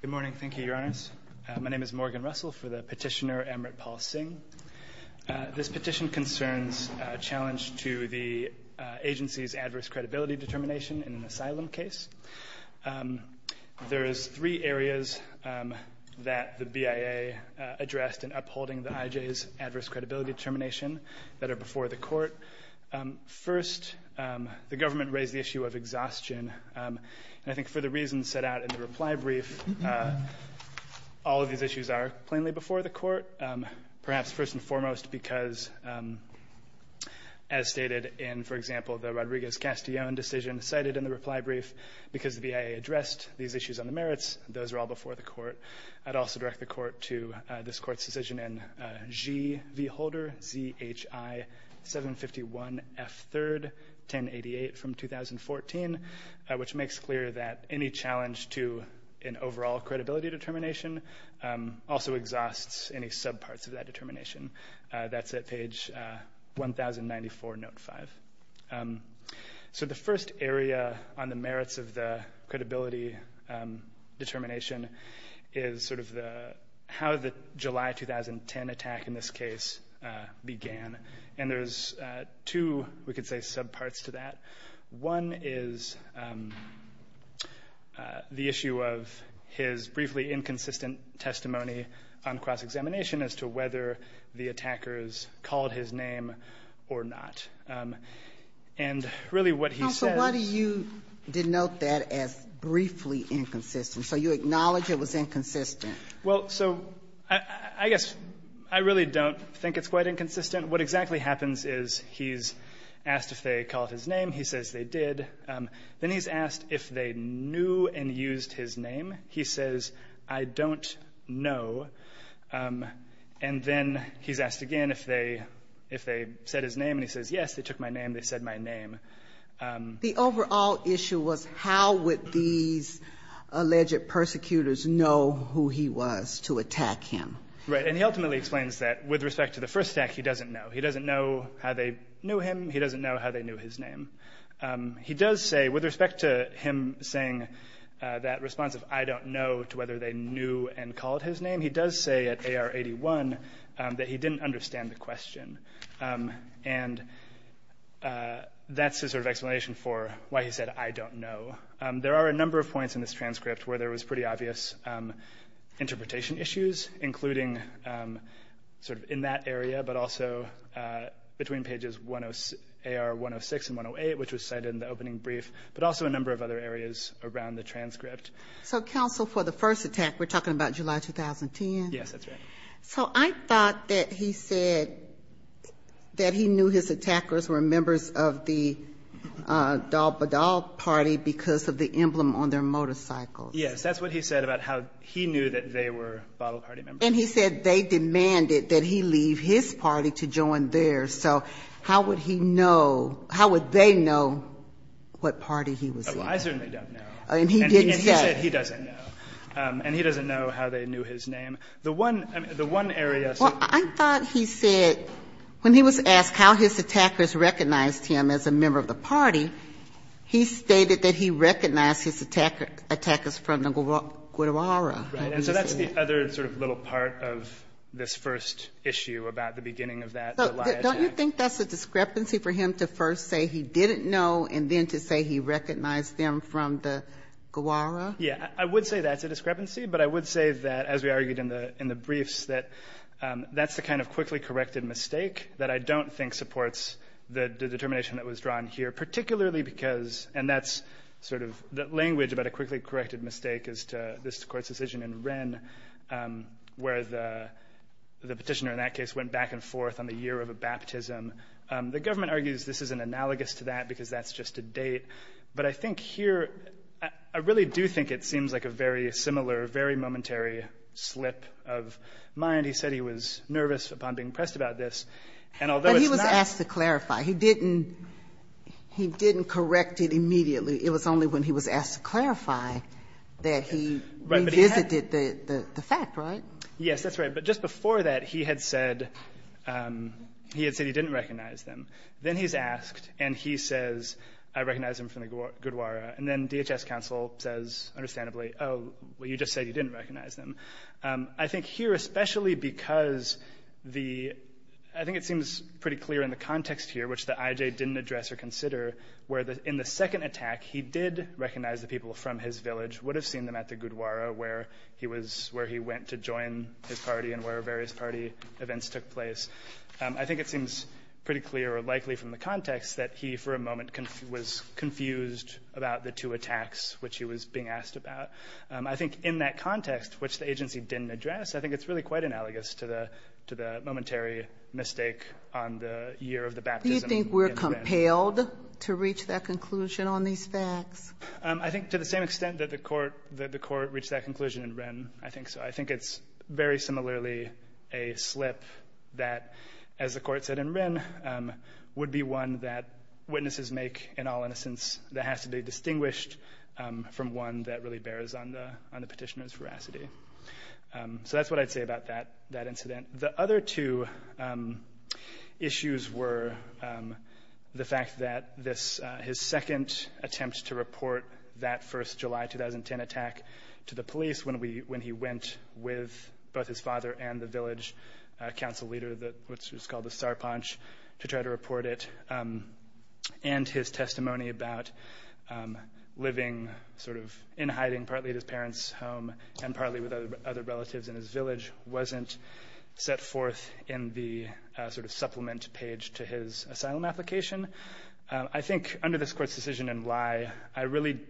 Good morning. Thank you, Your Honors. My name is Morgan Russell for the petitioner Amritpal Singh. This petition concerns a challenge to the agency's adverse credibility determination in an asylum case. There is three areas that the BIA addressed in upholding the IJ's adverse credibility determination that are before the court. First, the government raised the issue of exhaustion. I think for the reasons set out in the reply brief, all of these issues are plainly before the court, perhaps first and foremost because, as stated in, for example, the Rodriguez-Castillon decision cited in the reply brief, because the BIA addressed these issues on the merits, those are all before the court. I'd also direct the court to this court's decision in G. V. Holder, ZHI 751 F3, 1088 from 2014, which makes clear that any challenge to an overall credibility determination also exhausts any subparts of that determination. That's at page 1094, note 5. So the first area on the merits of the credibility determination is sort of the, how the July 2010 attack in this case began. And there's two, we could say, subparts to that. One is the issue of his briefly inconsistent testimony on cross-examination as to whether the attackers called his name or not. And really what he says — Counsel, why do you denote that as briefly inconsistent? So you acknowledge it was inconsistent. Well, so I guess I really don't think it's quite inconsistent. What exactly happens is he's asked if they called his name. He says they did. Then he's asked if they knew and used his name. He says, I don't know. And then he's asked again if they said his name. And he says, yes, they took my name. They said my name. The overall issue was, how would these alleged persecutors know who he was to attack him? Right. And he ultimately explains that with respect to the first attack, he doesn't know. He doesn't know how they knew him. He doesn't know how they knew his name. He does say, with respect to him saying that response of, I don't know, to whether they knew and called his name, he does say at AR-81 that he didn't understand the question. And that's his sort of explanation for why he said, I don't know. There are a number of points in this transcript where there was pretty obvious interpretation issues, including sort of in that area, but also between pages AR-106 and 108, which was cited in the opening brief, but also a number of other areas around the transcript. So counsel, for the first attack, we're talking about July 2010. Yes, that's right. So I thought that he said that he knew his attackers were members of the Dal Badal party because of the emblem on their motorcycles. Yes. That's what he said about how he knew that they were Bottle Party members. And he said they demanded that he leave his party to join theirs. So how would he know, how would they know what party he was in? Oh, I certainly don't know. And he didn't say. And he said he doesn't know. And he doesn't know how they knew his name. The one, the one area. Well, I thought he said, when he was asked how his attackers recognized him as a member of the party, he stated that he recognized his attackers from the Guadalajara. Right. And so that's the other sort of little part of this first issue about the beginning of that lie attack. Don't you think that's a discrepancy for him to first say he didn't know and then to say he recognized them from the Guadalajara? Yeah. I would say that's a discrepancy. But I would say that, as we argued in the briefs, that that's the kind of quickly corrected mistake that I don't think supports the determination that was drawn here, particularly because, and that's sort of the language about a quickly corrected mistake as to this Court's decision in Wren where the Petitioner in that case went back and forth on the year of a baptism. The government argues this is an analogous to that because that's just a date. But I think here, I really do think it seems like a very similar, very momentary slip of mind. He said he was nervous upon being pressed about this. And although it's not But he was asked to clarify. He didn't correct it immediately. It was only when he was asked to clarify that he revisited the fact, right? Yes, that's right. But just before that, he had said he didn't recognize them. Then he's asked, and he says, I recognize them from the Gurdwara. And then DHS counsel says, understandably, well, you just said you didn't recognize them. I think here, especially because the, I think it seems pretty clear in the context here, which the IJ didn't address or consider, where in the second attack, he did recognize the people from his village, would have seen them at the Gurdwara where he was, where he went to join his party and where various party events took place. I think it seems pretty clear or likely from the context that he, for a moment, was confused about the two attacks which he was being asked about. I think in that context, which the agency didn't address, I think it's really quite analogous to the momentary mistake on the year of the baptism in Rennes. Do you think we're compelled to reach that conclusion on these facts? I think to the same extent that the Court reached that conclusion in Rennes, I think so. I think it's very similarly a slip that, as the Court said in Rennes, would be one that witnesses make in all innocence that has to be distinguished from one that really bears on the petitioner's veracity. So that's what I'd say about that incident. The other two issues were the fact that this, his second attempt to report that first July 2010 attack to the police when he went with both his father and the village council leader, which was called the Sarpanch, to try to report it. And his testimony about living sort of in hiding, partly at his parents' home and partly with other relatives in his village, wasn't set forth in the sort of supplement page to his asylum application. I think under this Court's decision in Lye, I really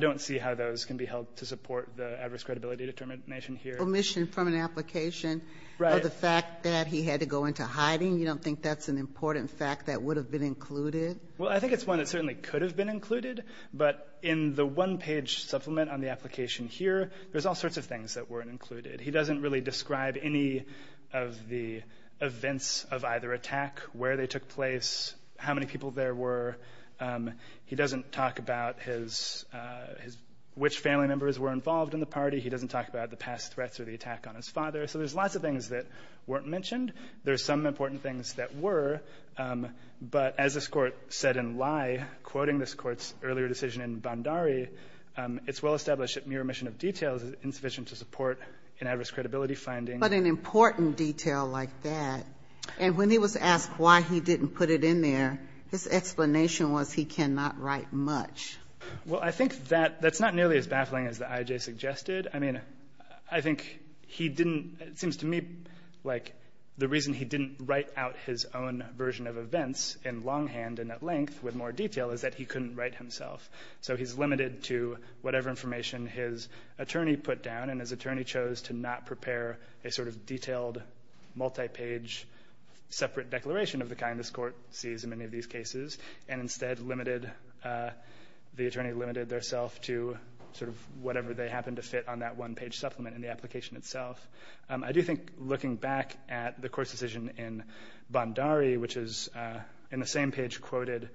don't see how those can be held to support the adverse credibility determination here. Omission from an application of the fact that he had to go into hiding, you don't think that's an important fact that would have been included? Well, I think it's one that certainly could have been included, but in the one-page supplement on the application here, there's all sorts of things that weren't included. He doesn't really describe any of the events of either attack, where they took place, how many people there were. He doesn't talk about his — which family members were involved in the party. He doesn't talk about the past threats or the attack on his father. So there's lots of things that weren't mentioned. There's some important things that were. But as this Court said in Lye, quoting this Court's earlier decision in Bondari, it's well established that mere omission of details is insufficient to support an adverse credibility finding. But an important detail like that, and when he was asked why he didn't put it in the questionnaire, his explanation was he cannot write much. Well, I think that that's not nearly as baffling as the I.J. suggested. I mean, I think he didn't — it seems to me like the reason he didn't write out his own version of events in longhand and at length with more detail is that he couldn't write himself. So he's limited to whatever information his attorney put down, and his attorney chose to not prepare a sort of detailed, multi-page, separate declaration of the kind this Court sees in many of these cases, and instead limited — the attorney limited theirself to sort of whatever they happened to fit on that one-page supplement in the application itself. I do think, looking back at the Court's decision in Bondari, which is in the same page quoted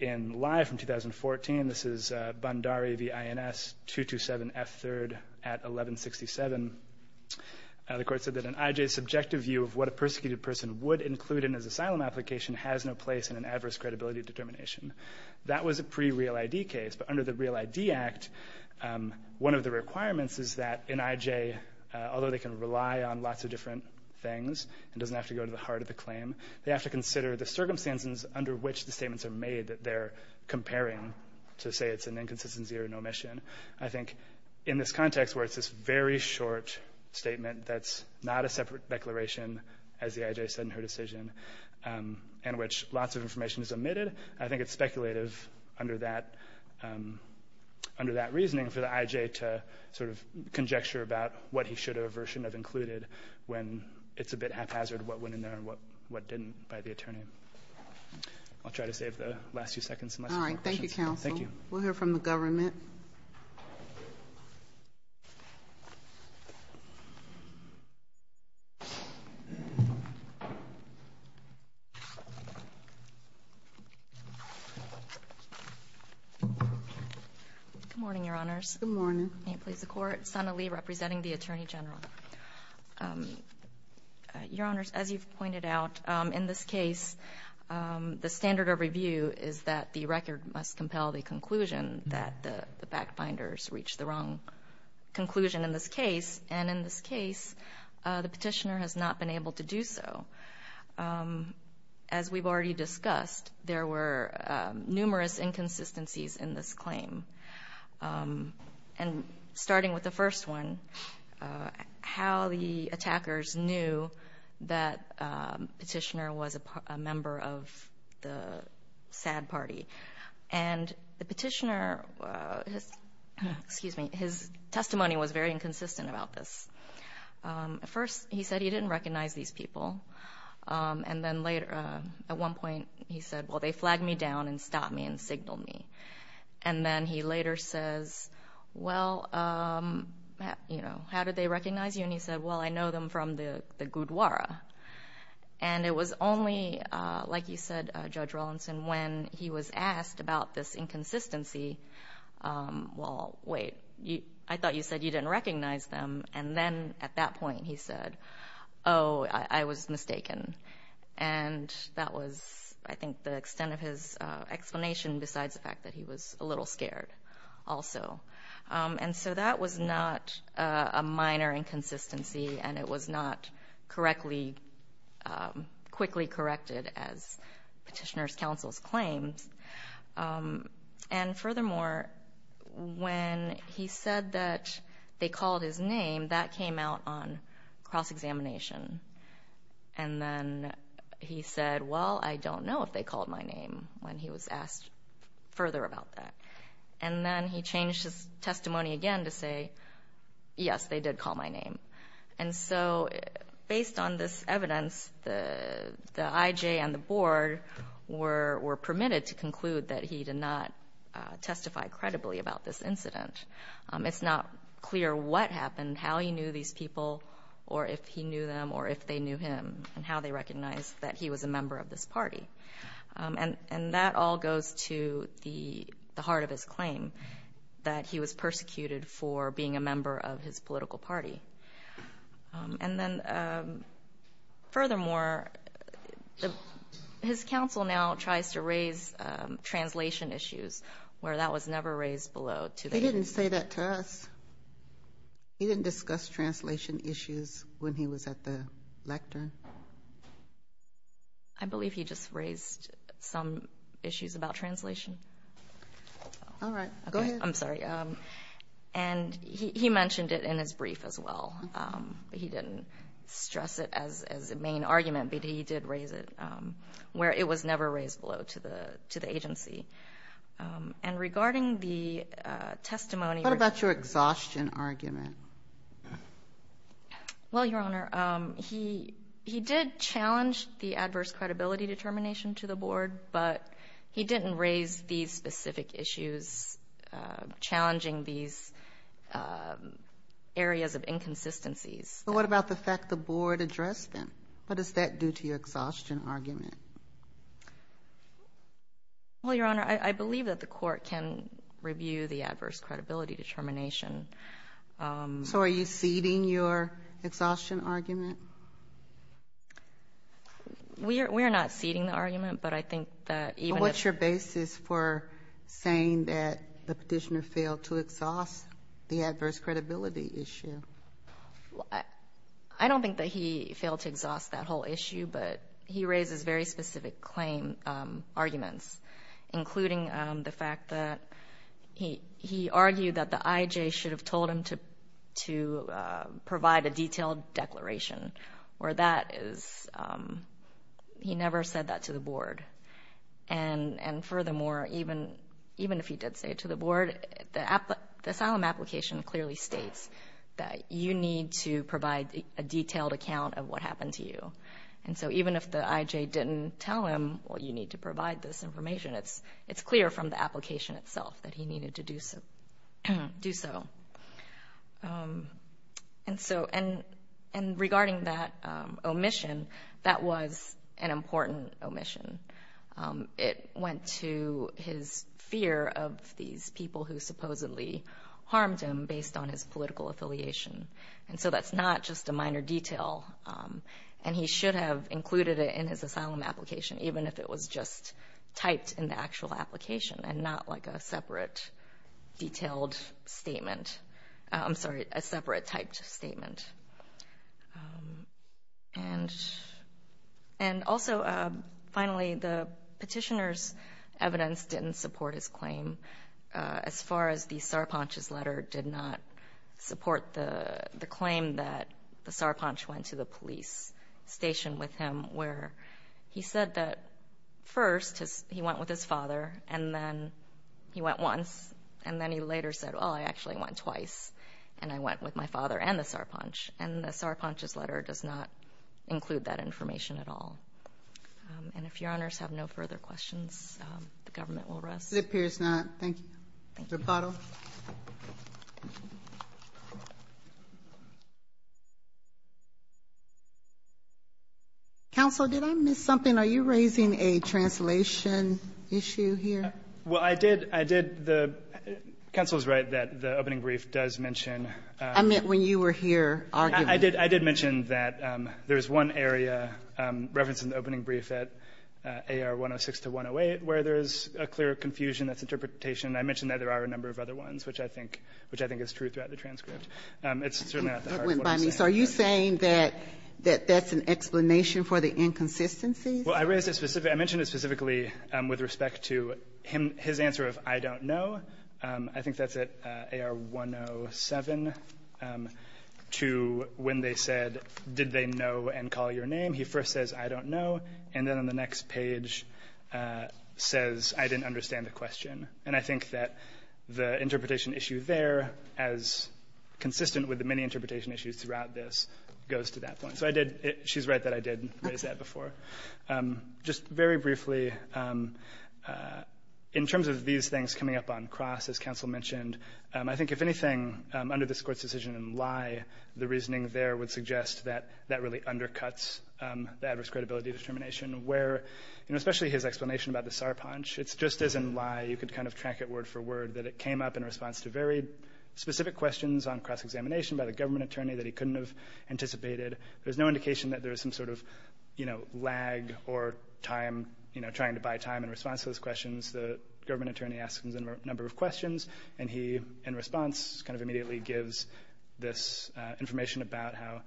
in Lye from 2014 — this is Bondari v. INS, 227 F. 3rd at 1167. The Court said that an I.J.'s subjective view of what a persecuted person would include in his asylum application has no place in an adverse credibility determination. That was a pre-Real ID case, but under the Real ID Act, one of the requirements is that an I.J., although they can rely on lots of different things and doesn't have to go to the heart of the claim, they have to consider the circumstances under which the statements are made that they're comparing to say it's an inconsistency or an omission. I think in this context where it's this very short statement that's not a separate declaration, as the I.J. said in her decision, and which lots of information is omitted, I think it's speculative under that reasoning for the I.J. to sort of conjecture about what he should have, a version of included, when it's a bit haphazard what went in there and what didn't by the attorney. I'll try to save the last few seconds. All right. Thank you, counsel. Thank you. We'll hear from the government. Good morning, Your Honors. Good morning. May it please the Court. Sana Lee representing the Attorney General. Your Honors, as you've pointed out, in this case, the standard of review is that the record must compel the conclusion that the back finders reached the wrong conclusion in this case. And in this case, the petitioner has not been able to do so. As we've already discussed, there were numerous inconsistencies in this claim. And starting with the first one, how the attackers knew that the petitioner was a member of the sad party. And the petitioner, excuse me, his testimony was very inconsistent about this. First, he said he didn't recognize these people. And then later, at one point, he said, well, they flagged me down and stopped me and signaled me. And then he later says, well, you know, how did they recognize you? And he said, well, I know them from the Gurdwara. And it was only, like you said, Judge Rawlinson, when he was asked about this inconsistency, well, wait, I thought you said you didn't recognize them. And then, at that point, he said, oh, I was mistaken. And that was, I think, the extent of his explanation besides the fact that he was a little scared also. And so that was not a minor inconsistency and it was not correctly, quickly corrected as Petitioner's Counsel's claims. And furthermore, when he said that they called his name, that came out on cross-examination. And then he said, well, I don't know if they called my name when he was asked further about that. And then he changed his testimony again to say, yes, they did call my name. And so, based on this evidence, the IJ and the Board were permitted to conclude that he did not testify credibly about this incident. It's not clear what happened, how he knew these people, or if he knew them, or if they knew him, and how they recognized that he was a member of this party. And that all goes to the heart of his claim, that he was persecuted for being a member of his political party. And then, furthermore, his counsel now tries to raise translation issues, where that was never raised below to the- He didn't say that to us. He didn't discuss translation issues when he was at the lectern. I believe he just raised some issues about translation. All right. Go ahead. I'm sorry. And he mentioned it in his brief as well. He didn't stress it as a main argument, but he did raise it, where it was never raised below to the agency. And regarding the testimony- What about your exhaustion argument? Well, Your Honor, he did challenge the adverse credibility determination to the board, but he didn't raise these specific issues, challenging these areas of inconsistencies. But what about the fact the board addressed them? What does that do to your exhaustion argument? Well, Your Honor, I believe that the court can review the adverse credibility determination. So are you ceding your exhaustion argument? We are not ceding the argument, but I think that even if- What's your basis for saying that the petitioner failed to exhaust the adverse credibility issue? I don't think that he failed to exhaust that whole issue, but he raises very clearly that the IJ should have told him to provide a detailed declaration, where that is- He never said that to the board. And furthermore, even if he did say it to the board, the asylum application clearly states that you need to provide a detailed account of what happened to you. And so even if the IJ didn't tell him, well, you need to provide this information, it's clear from the application itself that he needed to do so. And so- And regarding that omission, that was an important omission. It went to his fear of these people who supposedly harmed him based on his political affiliation. And so that's not just a minor detail, and he should have included it in his asylum application, even if it was just typed in the actual application, and not like a separate detailed statement. I'm sorry, a separate typed statement. And also, finally, the petitioner's evidence didn't support his claim as far as the Sarpanch's letter did not support the claim that the Sarpanch went to the police station with him, where he said that first he went with his father, and then he went once, and then he later said, well, I actually went twice, and I went with my father and the Sarpanch. And the Sarpanch's letter does not include that information at all. And if Your Honors have no further questions, the government will rest. It appears not. Thank you. Thank you. Rapado. Counsel, did I miss something? Are you raising a translation issue here? Well, I did. I did. The counsel is right that the opening brief does mention. I meant when you were here arguing. I did mention that there is one area referenced in the opening brief at AR 106-108 where there is a clear confusion that's interpretation. I mentioned that there are a number of other ones, which I think is true throughout the transcript. It's certainly not the heart of what I'm saying. Are you saying that that's an explanation for the inconsistencies? Well, I mentioned it specifically with respect to his answer of, I don't know. I think that's at AR 107 to when they said, did they know and call your name? He first says, I don't know, and then on the next page says, I didn't understand the question. And I think that the interpretation issue there, as consistent with the many interpretation issues throughout this, goes to that point. So she's right that I did raise that before. Just very briefly, in terms of these things coming up on cross, as counsel mentioned, I think if anything under this Court's decision in lie, the reasoning there would suggest that that really undercuts the adverse credibility determination, where, you know, especially his explanation about the sarpanch, it's just as in lie. You could kind of track it word for word that it came up in response to very specific questions on cross-examination by the government attorney that he couldn't have anticipated. There's no indication that there's some sort of, you know, lag or time, you know, trying to buy time in response to those questions. The government attorney asks him a number of questions, and he, in response, kind of immediately gives this information about how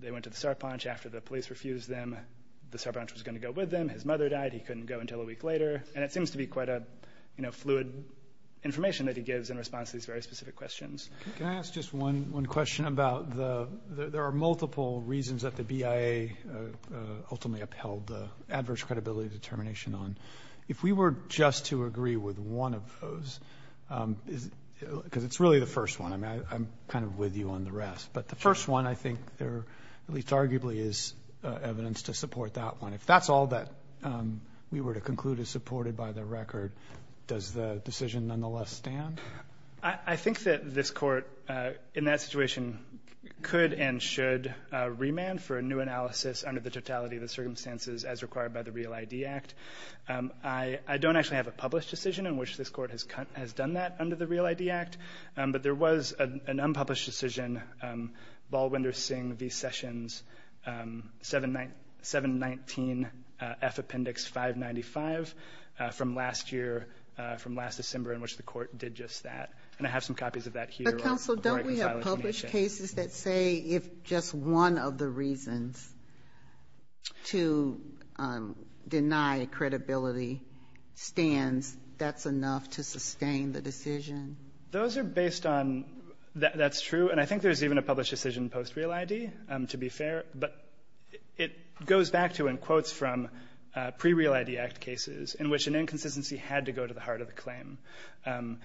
they went to the sarpanch after the police refused them. The sarpanch was going to go with them. His mother died. He couldn't go until a week later. And it seems to be quite a, you know, fluid information that he gives in response to these very specific questions. Can I ask just one question about the, there are multiple reasons that the BIA ultimately upheld the adverse credibility determination on. If we were just to agree with one of those, because it's really the first one. I'm kind of with you on the rest. But the first one, I think there, at least arguably, is evidence to support that one. If that's all that we were to conclude is supported by the record, does the decision nonetheless stand? I think that this court, in that situation, could and should remand for a new analysis under the totality of the circumstances as required by the Real ID Act. I don't actually have a published decision in which this court has done that under the Real ID Act. But there was an unpublished decision, Balwinder-Singh v. Sessions, 719F Appendix 595 from last year, from last December, in which the court did just that. And I have some copies of that here. But, counsel, don't we have published cases that say if just one of the reasons to deny credibility stands, that's enough to sustain the decision? Those are based on, that's true. And I think there's even a published decision post-Real ID, to be fair. But it goes back to, in quotes from pre-Real ID Act cases, in which an inconsistency had to go to the heart of the claim. And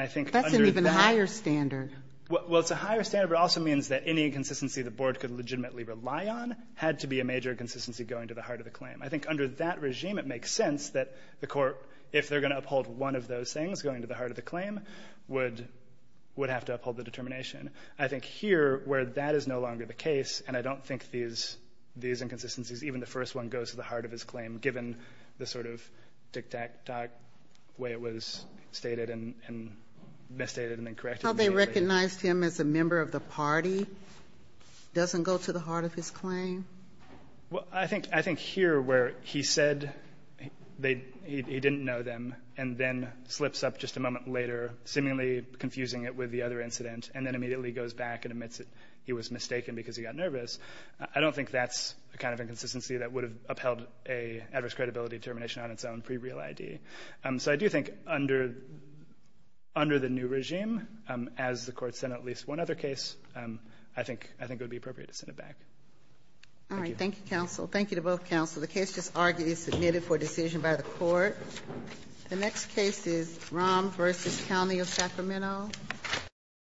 I think under that ---- That's an even higher standard. Well, it's a higher standard, but it also means that any inconsistency the Board could legitimately rely on had to be a major inconsistency going to the heart of the claim. I think under that regime, it makes sense that the court, if they're going to uphold one of those things going to the heart of the claim, would have to uphold the determination. I think here, where that is no longer the case, and I don't think these inconsistencies, even the first one, goes to the heart of his claim, given the sort of tic-tac-toe way it was stated and misstated and then corrected immediately. How they recognized him as a member of the party doesn't go to the heart of his claim? Well, I think here, where he said he didn't know them, and then slips up just a moment later, seemingly confusing it with the other incident, and then immediately goes back and admits that he was mistaken because he got nervous, I don't think that's the kind of inconsistency that would have upheld an adverse credibility determination on its own pre-Real ID. So I do think under the new regime, as the court sent at least one other case, I think it would be appropriate to send it back. Thank you. Thank you, counsel. Thank you to both counsel. The case just argued is submitted for decision by the court. The next case is Rahm v. County of Sacramento.